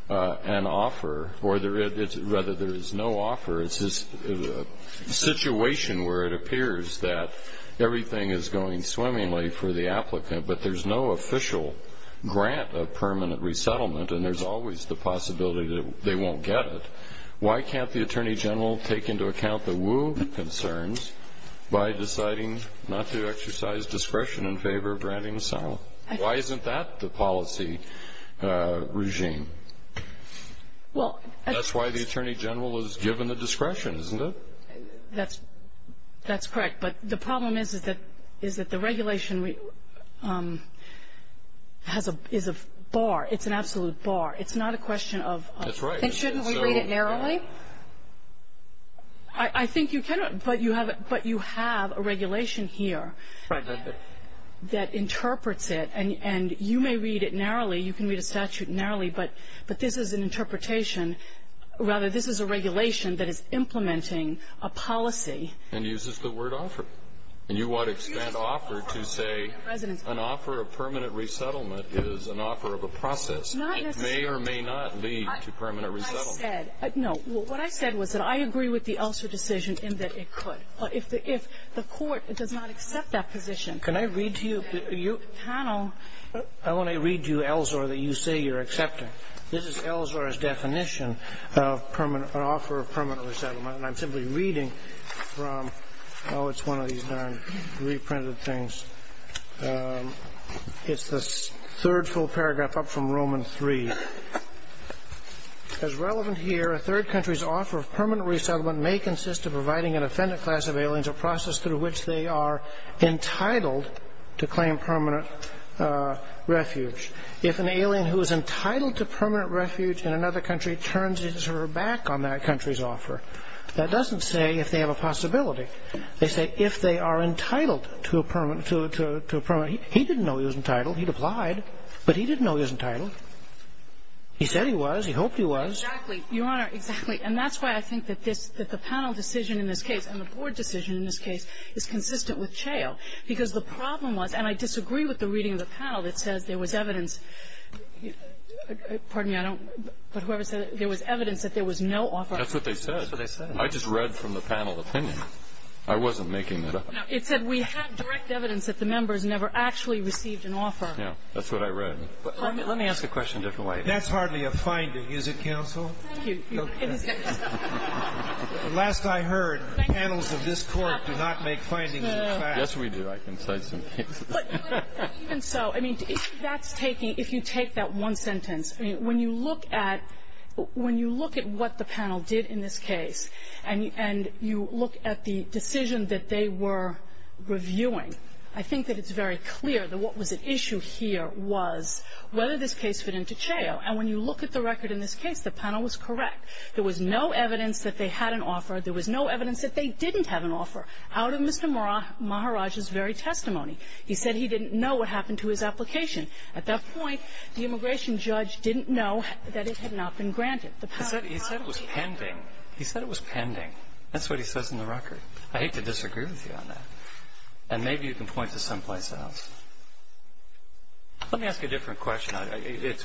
an offer, or rather there is no offer, it's a situation where it appears that everything is going swimmingly for the applicant, but there's no official grant of permanent resettlement, and there's always the possibility that they won't get it. Why can't the Attorney General take into account the Wu concerns by deciding not to exercise discretion in favor of granting asylum? Why isn't that the policy regime? That's why the Attorney General is given the discretion, isn't it? That's correct. But the problem is that the regulation is a bar. It's an absolute bar. It's not a question of ‑‑ That's right. And shouldn't we read it narrowly? I think you can, but you have a regulation here that interprets it, and you may read it narrowly. You can read a statute narrowly, but this is an interpretation. Rather, this is a regulation that is implementing a policy. And uses the word offer. And you want to expand offer to say an offer of permanent resettlement is an offer of a process. It may or may not lead to permanent resettlement. No. What I said was that I agree with the Elsor decision in that it could. If the court does not accept that position ‑‑ Can I read to you? I want to read to you, Elsor, that you say you're accepting. This is Elsor's definition of an offer of permanent resettlement, and I'm simply reading from ‑‑ Oh, it's one of these darn reprinted things. It's the third full paragraph up from Roman 3. As relevant here, a third country's offer of permanent resettlement may consist of providing an offendant class of aliens a process through which they are entitled to claim permanent refuge. If an alien who is entitled to permanent refuge in another country turns his or her back on that country's offer, that doesn't say if they have a possibility. They say if they are entitled to a permanent ‑‑ He didn't know he was entitled. He'd applied. But he didn't know he was entitled. He said he was. He hoped he was. Exactly. Your Honor, exactly. And that's why I think that the panel decision in this case and the board decision in this case is consistent with Chao. Because the problem was, and I disagree with the reading of the panel that says there was evidence ‑‑ There was evidence that there was no offer. That's what they said. That's what they said. I just read from the panel opinion. I wasn't making it up. No. It said we have direct evidence that the members never actually received an offer. Yeah. That's what I read. Let me ask a question a different way. That's hardly a finding, is it, counsel? Thank you. Last I heard, the panels of this Court do not make findings in fact. Yes, we do. I can cite some cases. Even so, I mean, that's taking ‑‑ if you take that one sentence, when you look at what the panel did in this case and you look at the decision that they were reviewing, I think that it's very clear that what was at issue here was whether this case fit into Chao. And when you look at the record in this case, the panel was correct. There was no evidence that they had an offer. There was no evidence that they didn't have an offer out of Mr. Maharaj's very testimony. He said he didn't know what happened to his application. At that point, the immigration judge didn't know that it had not been granted. He said it was pending. He said it was pending. That's what he says in the record. I hate to disagree with you on that. And maybe you can point to someplace else. Let me ask a different question.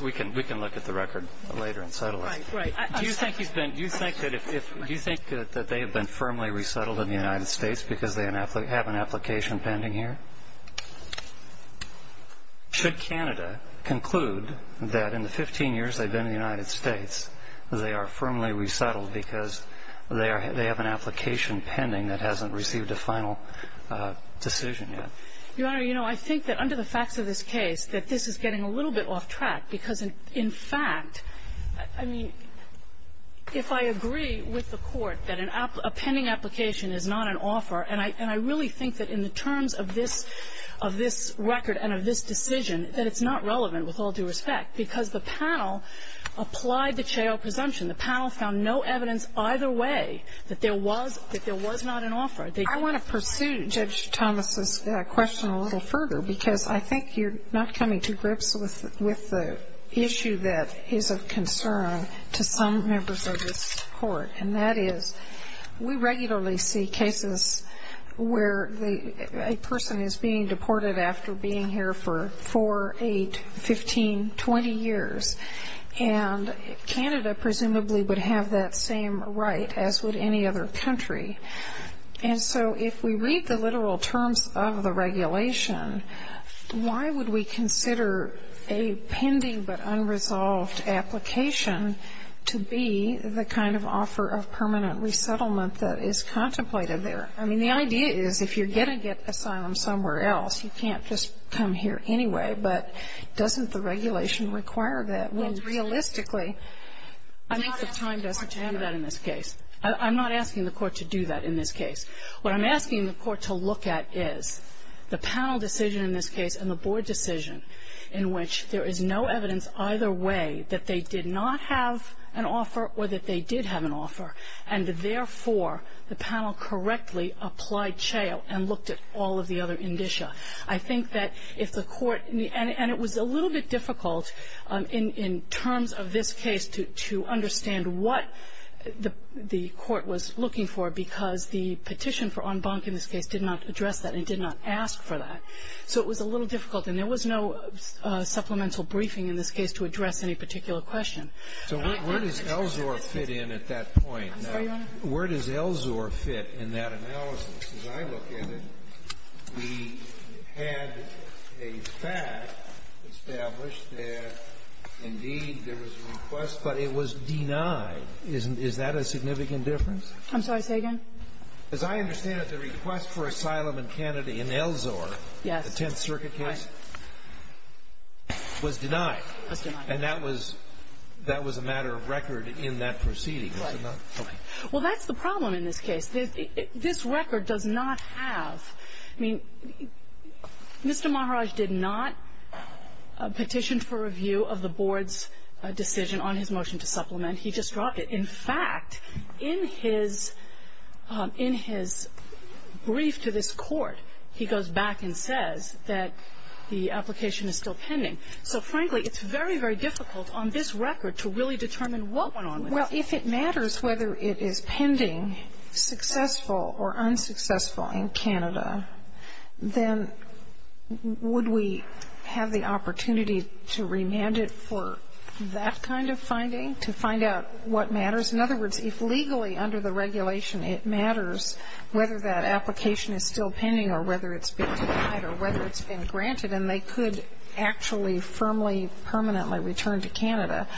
We can look at the record later and settle it. Right, right. Do you think that they have been firmly resettled in the United States because they have an application pending here? Should Canada conclude that in the 15 years they've been in the United States, they are firmly resettled because they are they have an application pending that hasn't received a final decision yet? Your Honor, you know, I think that under the facts of this case, that this is getting a little bit off track, because in fact, I mean, if I agree with the Court that a pending application is not an offer, and I really think that in the terms of this record and of this decision, that it's not relevant, with all due respect, because the panel applied the Chao presumption. The panel found no evidence either way that there was not an offer. I want to pursue Judge Thomas' question a little further, because I think you're not coming to grips with the issue that is of concern to some members of this Court, and that is we regularly see cases where a person is being deported after being here for 4, 8, 15, 20 years, and Canada presumably would have that same right as would any other country. And so if we read the literal terms of the regulation, why would we consider a pending but unresolved application to be the kind of offer of permanent resettlement that is contemplated there? I mean, the idea is if you're going to get asylum somewhere else, you can't just come here anyway. But doesn't the regulation require that? When realistically, I think the time doesn't have that in this case. I'm not asking the Court to do that in this case. What I'm asking the Court to look at is the panel decision in this case and the board decision, in which there is no evidence either way that they did not have an offer or that they did have an offer, and therefore the panel correctly applied CHEO and looked at all of the other indicia. I think that if the Court needs to, and it was a little bit difficult in terms of this case to understand what the Court was looking for, because the petition for en banc in this case did not address that and did not ask for that. So it was a little difficult, and there was no supplemental briefing in this case to address any particular question. So where does ELSOR fit in at that point? I'm sorry, Your Honor. Where does ELSOR fit in that analysis? As I look at it, we had a fact established that, indeed, there was a request, but it was denied. Is that a significant difference? I'm sorry. Say again. As I understand it, the request for asylum in Canada in ELSOR, the Tenth Circuit case, was denied. Was denied. And that was a matter of record in that proceeding. Right. Okay. Well, that's the problem in this case. This record does not have. I mean, Mr. Maharaj did not petition for review of the Board's decision on his motion to supplement. He just dropped it. In fact, in his brief to this Court, he goes back and says that the application is still pending. So, frankly, it's very, very difficult on this record to really determine what went on. Well, if it matters whether it is pending, successful or unsuccessful in Canada, then would we have the opportunity to remand it for that kind of finding, to find out what matters? In other words, if legally under the regulation it matters whether that application is still pending or whether it's been denied or whether it's been granted and they could actually firmly, permanently return to Canada,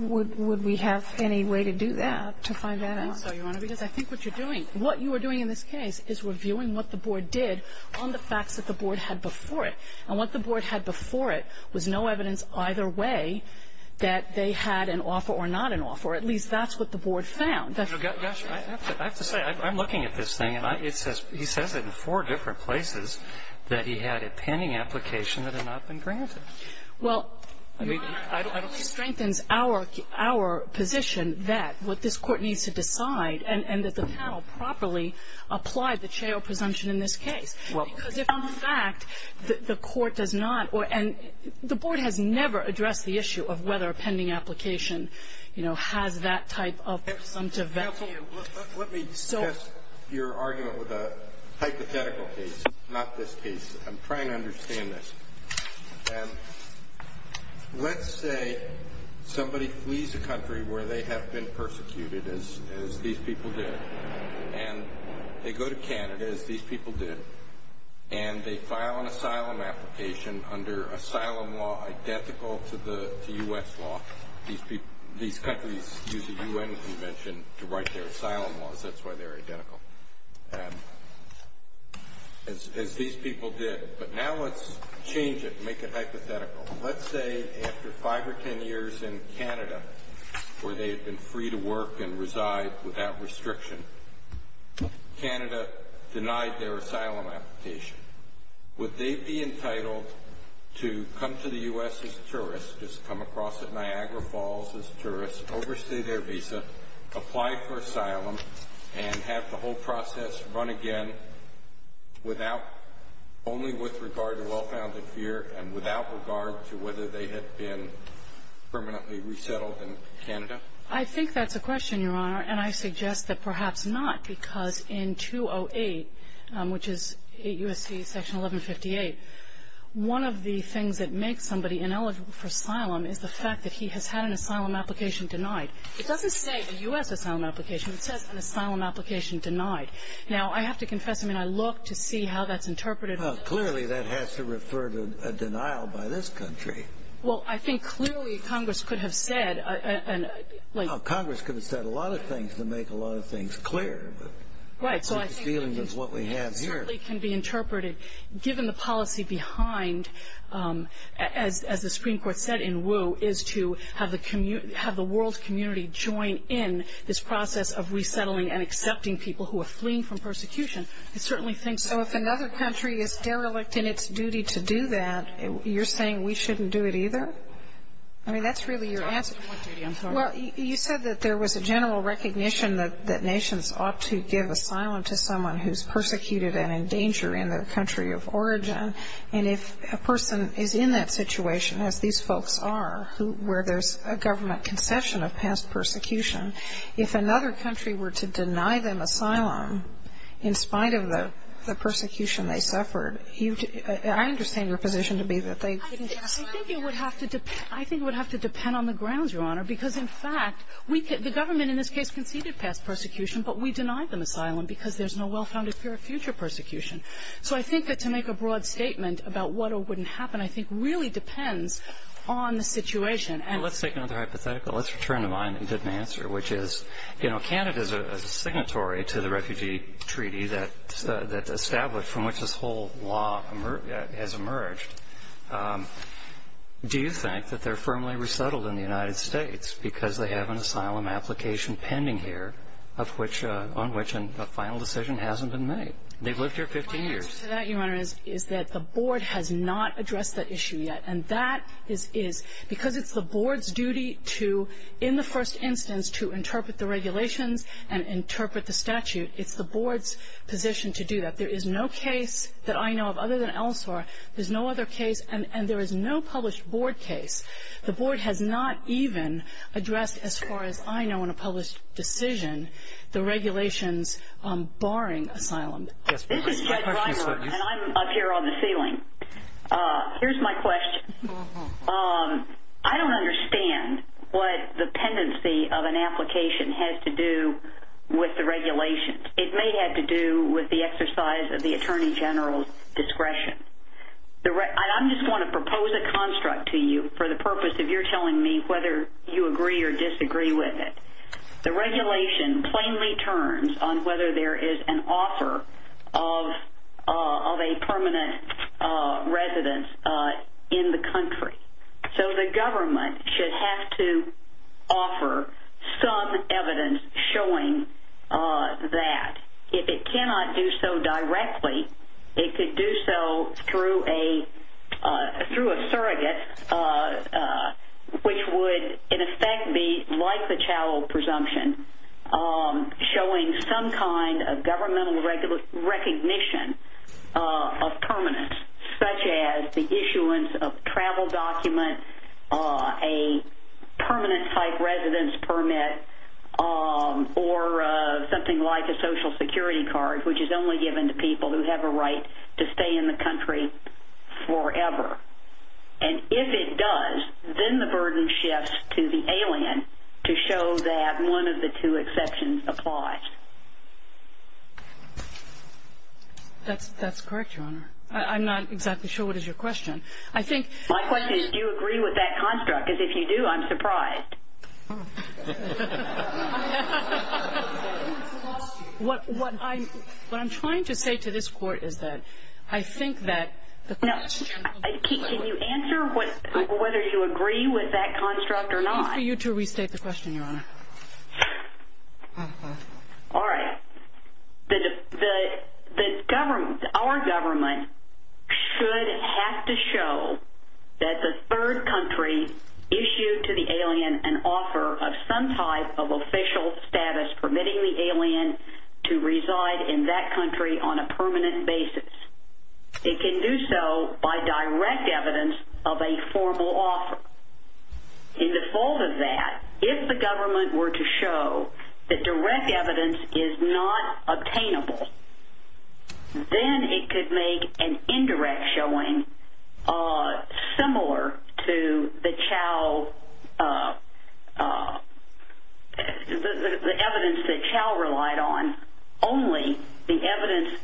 would we have any way to do that, to find that out? I think so, Your Honor, because I think what you're doing, what you are doing in this case is reviewing what the Board did on the facts that the Board had before it. And what the Board had before it was no evidence either way that they had an offer or not an offer. At least that's what the Board found. Gosh, I have to say, I'm looking at this thing and it says, he says it in four different places that he had a pending application that had not been granted. Well, Your Honor, I don't think it strengthens our position that what this Court needs to decide and that the panel properly applied the Chao presumption in this case, but the Court does not. And the Board has never addressed the issue of whether a pending application, you know, has that type of presumptive value. Let me address your argument with a hypothetical case, not this case. I'm trying to understand this. Let's say somebody flees a country where they have been persecuted, as these people did, and they go to Canada, as these people did, and they file an asylum application under asylum law identical to the U.S. law. These countries use a U.N. convention to write their asylum laws. That's why they're identical, as these people did. But now let's change it and make it hypothetical. Let's say after five or ten years in Canada where they had been free to work and reside without restriction, Canada denied their asylum application. Would they be entitled to come to the U.S. as tourists, just come across at Niagara Falls as tourists, overstay their visa, apply for asylum, and have the whole process run again without — only with regard to well-founded fear and without regard to whether they had been permanently resettled in Canada? I think that's a question, Your Honor, and I suggest that perhaps not, because in 208, which is 8 U.S.C. Section 1158, one of the things that makes somebody ineligible for asylum is the fact that he has had an asylum application denied. It doesn't say a U.S. asylum application. It says an asylum application denied. Now, I have to confess, I mean, I look to see how that's interpreted. Well, clearly that has to refer to a denial by this country. Well, I think clearly Congress could have said — Congress could have said a lot of things to make a lot of things clear. Right, so I think it certainly can be interpreted, given the policy behind, as the Supreme Court said in Wu, is to have the world community join in this process of resettling and accepting people who are fleeing from persecution. I certainly think so. So if another country is derelict in its duty to do that, you're saying we shouldn't do it either? I mean, that's really your answer. Well, you said that there was a general recognition that nations ought to give asylum to someone who's persecuted and in danger in their country of origin. And if a person is in that situation, as these folks are, where there's a government conception of past persecution, if another country were to deny them asylum in spite of the persecution they suffered, I understand your position to be that they didn't get asylum there. I think it would have to — I think it would have to depend on the grounds, Your Honor, because, in fact, we could — the government in this case conceded past persecution, but we denied them asylum because there's no well-founded fear of future persecution. So I think that to make a broad statement about what or wouldn't happen, I think, really depends on the situation. Well, let's take another hypothetical. Let's return to mine and get an answer, which is, you know, Canada is a signatory to the refugee treaty that's established from which this whole law has emerged. Do you think that they're firmly resettled in the United States because they have an asylum application pending here of which — on which a final decision hasn't been made? They've lived here 15 years. My answer to that, Your Honor, is that the board has not addressed that issue yet. And that is because it's the board's duty to, in the first instance, to interpret the regulations and interpret the statute. It's the board's position to do that. There is no case that I know of other than ELSOR. There's no other case. And there is no published board case. The board has not even addressed, as far as I know, in a published decision, the regulations barring asylum. This is Judge Reimer, and I'm up here on the ceiling. Here's my question. I don't understand what the pendency of an application has to do with the regulations. It may have to do with the exercise of the Attorney General's discretion. I'm just going to propose a construct to you for the purpose of your telling me whether you agree or disagree with it. The regulation plainly turns on whether there is an offer of a permanent residence in the country. So the government should have to offer some evidence showing that. If it cannot do so directly, it could do so through a surrogate, which would, in effect, be like the Chowell presumption, showing some kind of governmental recognition of permanence, such as the issuance of a travel document, a permanent-type residence permit, or something like a Social Security card, which is only given to people who have a right to stay in the country forever. And if it does, then the burden shifts to the alien to show that one of the two presumptions applies. That's correct, Your Honor. I'm not exactly sure what is your question. My question is, do you agree with that construct? Because if you do, I'm surprised. What I'm trying to say to this Court is that I think that the question of whether you agree with that construct or not. It's for you to restate the question, Your Honor. All right. Our government should have to show that the third country issued to the alien an offer of some type of official status permitting the alien to reside in that country on a permanent basis. It can do so by direct evidence of a formal offer. In default of that, if the government were to show that direct evidence is not obtainable, then it could make an indirect showing similar to the evidence that Chao relied on, only the evidence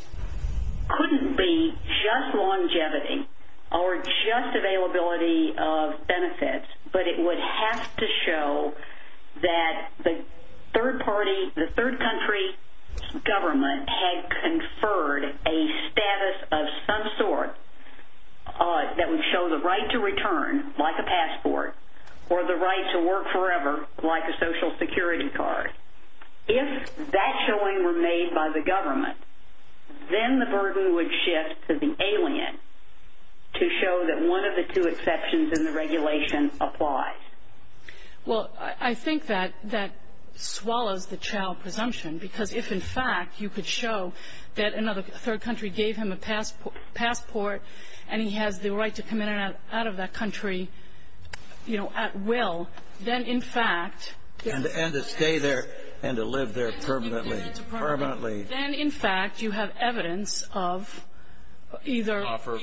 couldn't be just longevity or just availability of benefits, but it would have to show that the third country government had conferred a status of some sort that would show the right to return, like a passport, or the right to work forever, like a Social Security card. If that showing were made by the government, then the burden would shift to the alien to show that one of the two exceptions in the regulation applies. Well, I think that that swallows the Chao presumption. Because if, in fact, you could show that another third country gave him a passport and he has the right to come in and out of that country, you know, at will, then, in fact, Permanently. Then, in fact, you have evidence of either an offer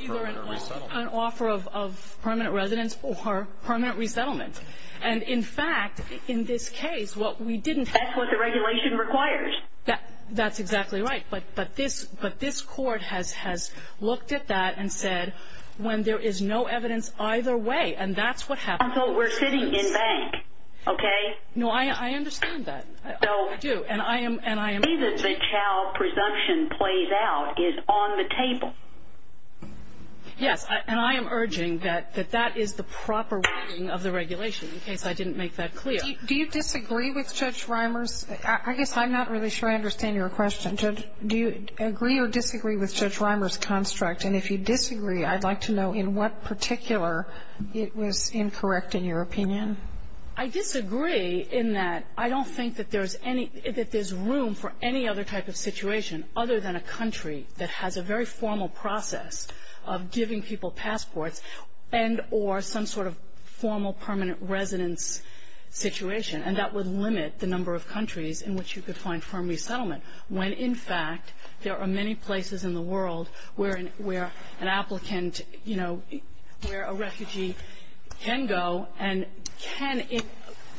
of permanent residence or permanent resettlement. And, in fact, in this case, what we didn't have. That's what the regulation requires. That's exactly right. But this court has looked at that and said, when there is no evidence either way, and that's what happened. And so we're sitting in bank, okay? No, I understand that. I do. And I am The way that the Chao presumption plays out is on the table. Yes. And I am urging that that is the proper wording of the regulation, in case I didn't make that clear. Do you disagree with Judge Reimer's? I guess I'm not really sure I understand your question. Do you agree or disagree with Judge Reimer's construct? And if you disagree, I'd like to know in what particular it was incorrect in your opinion. I disagree in that I don't think that there's any that there's room for any other type of situation other than a country that has a very formal process of giving people passports and or some sort of formal permanent residence situation, and that would limit the number of countries in which you could find firm resettlement, when, in fact, there are many places in the world where an applicant, you know, where a refugee can go and can It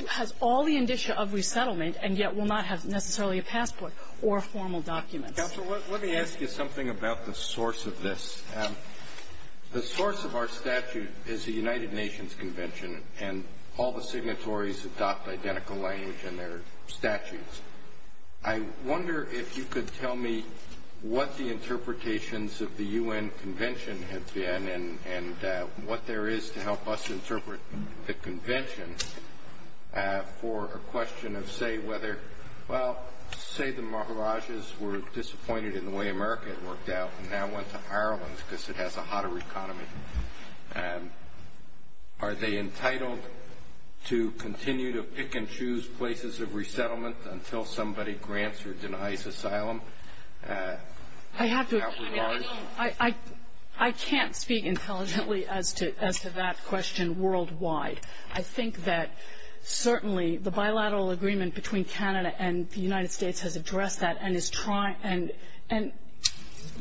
has all the indicia of resettlement and yet will not have necessarily a passport or formal documents. Counsel, let me ask you something about the source of this. The source of our statute is the United Nations Convention, and all the signatories adopt identical language in their statutes. I wonder if you could tell me what the interpretations of the U.N. Convention have been and what there is to help us interpret the convention for a question of, say, whether, well, say the Maharajas were disappointed in the way America had worked out and now went to Ireland because it has a hotter economy. Are they entitled to continue to pick and choose places of resettlement until somebody grants or denies asylum? I can't speak intelligently as to that question worldwide. I think that certainly the bilateral agreement between Canada and the United States has addressed that and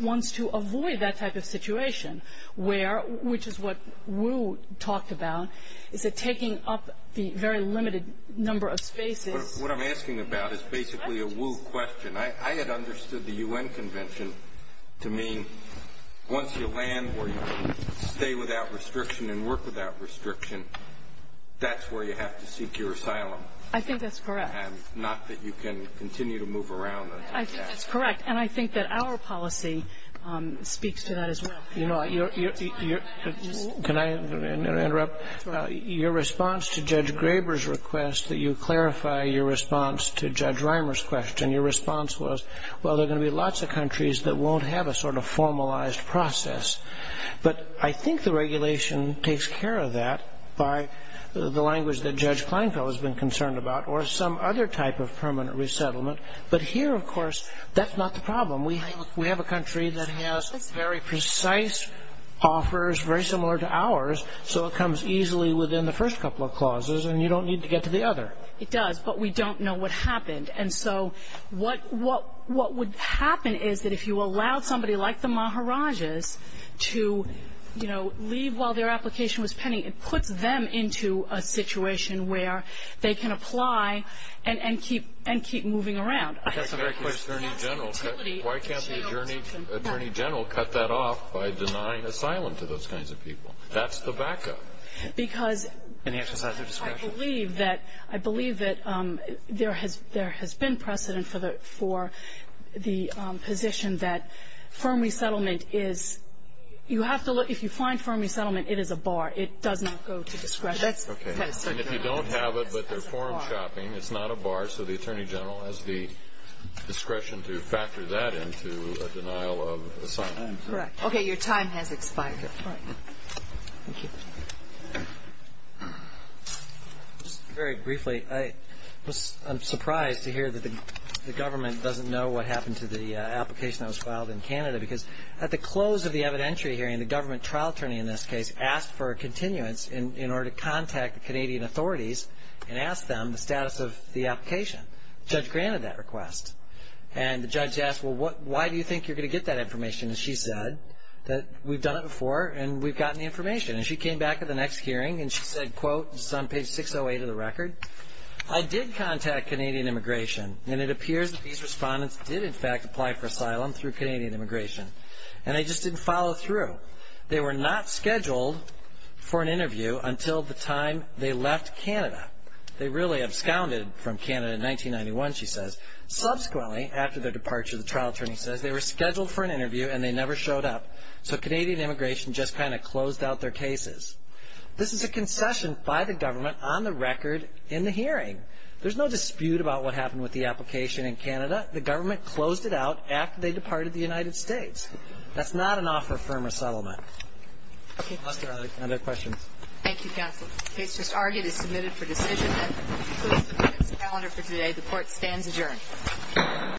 wants to avoid that type of situation, which is what Wu talked about, is that taking up the very limited number of spaces What I'm asking about is basically a Wu question. I had understood the U.N. Convention to mean once you land where you can stay without restriction and work without restriction, that's where you have to seek your asylum. I think that's correct. And not that you can continue to move around. I think that's correct. And I think that our policy speaks to that as well. Your response to Judge Graber's request that you clarify your response to Judge Reimer's question, your response was, well, there are going to be lots of countries that won't have a sort of formalized process. But I think the regulation takes care of that by the language that Judge Kleinfeld has been concerned about or some other type of permanent resettlement. But here, of course, that's not the problem. We have a country that has very precise offers, very similar to ours, so it comes easily within the first couple of clauses and you don't need to get to the other. It does, but we don't know what happened. And so what would happen is that if you allow somebody like the Maharajahs to leave while their application was pending, it puts them into a situation where they can apply and keep moving around. That's a very good question. Attorney General, why can't the Attorney General cut that off by denying asylum to those kinds of people? That's the backup. Any exercise of discretion? I believe that there has been precedent for the position that firm resettlement is, you have to look, if you find firm resettlement, it is a bar. It does not go to discretion. Okay. And if you don't have it, but they're forum shopping, it's not a bar, so the Attorney General has the discretion to factor that into a denial of asylum. Correct. Okay. Your time has expired. Thank you. Just very briefly, I'm surprised to hear that the government doesn't know what happened to the application that was filed in Canada because at the close of the evidentiary hearing, the government trial attorney in this case asked for a continuance in order to contact the Canadian authorities and ask them the status of the application. The judge granted that request. And the judge asked, well, why do you think you're going to get that information? And she said that we've done it before and we've gotten the information. And she came back at the next hearing and she said, quote, this is on page 608 of the record, I did contact Canadian Immigration and it appears that these respondents did in fact apply for asylum through Canadian Immigration. And they just didn't follow through. They were not scheduled for an interview until the time they left Canada. They really absconded from Canada in 1991, she says. Subsequently, after their departure, the trial attorney says they were scheduled for an interview and they never showed up. So Canadian Immigration just kind of closed out their cases. This is a concession by the government on the record in the hearing. There's no dispute about what happened with the application in Canada. The government closed it out after they departed the United States. That's not an offer of firm resettlement. Any other questions? Thank you, counsel. The case just argued is submitted for decision. That concludes today's calendar for today. The court stands adjourned.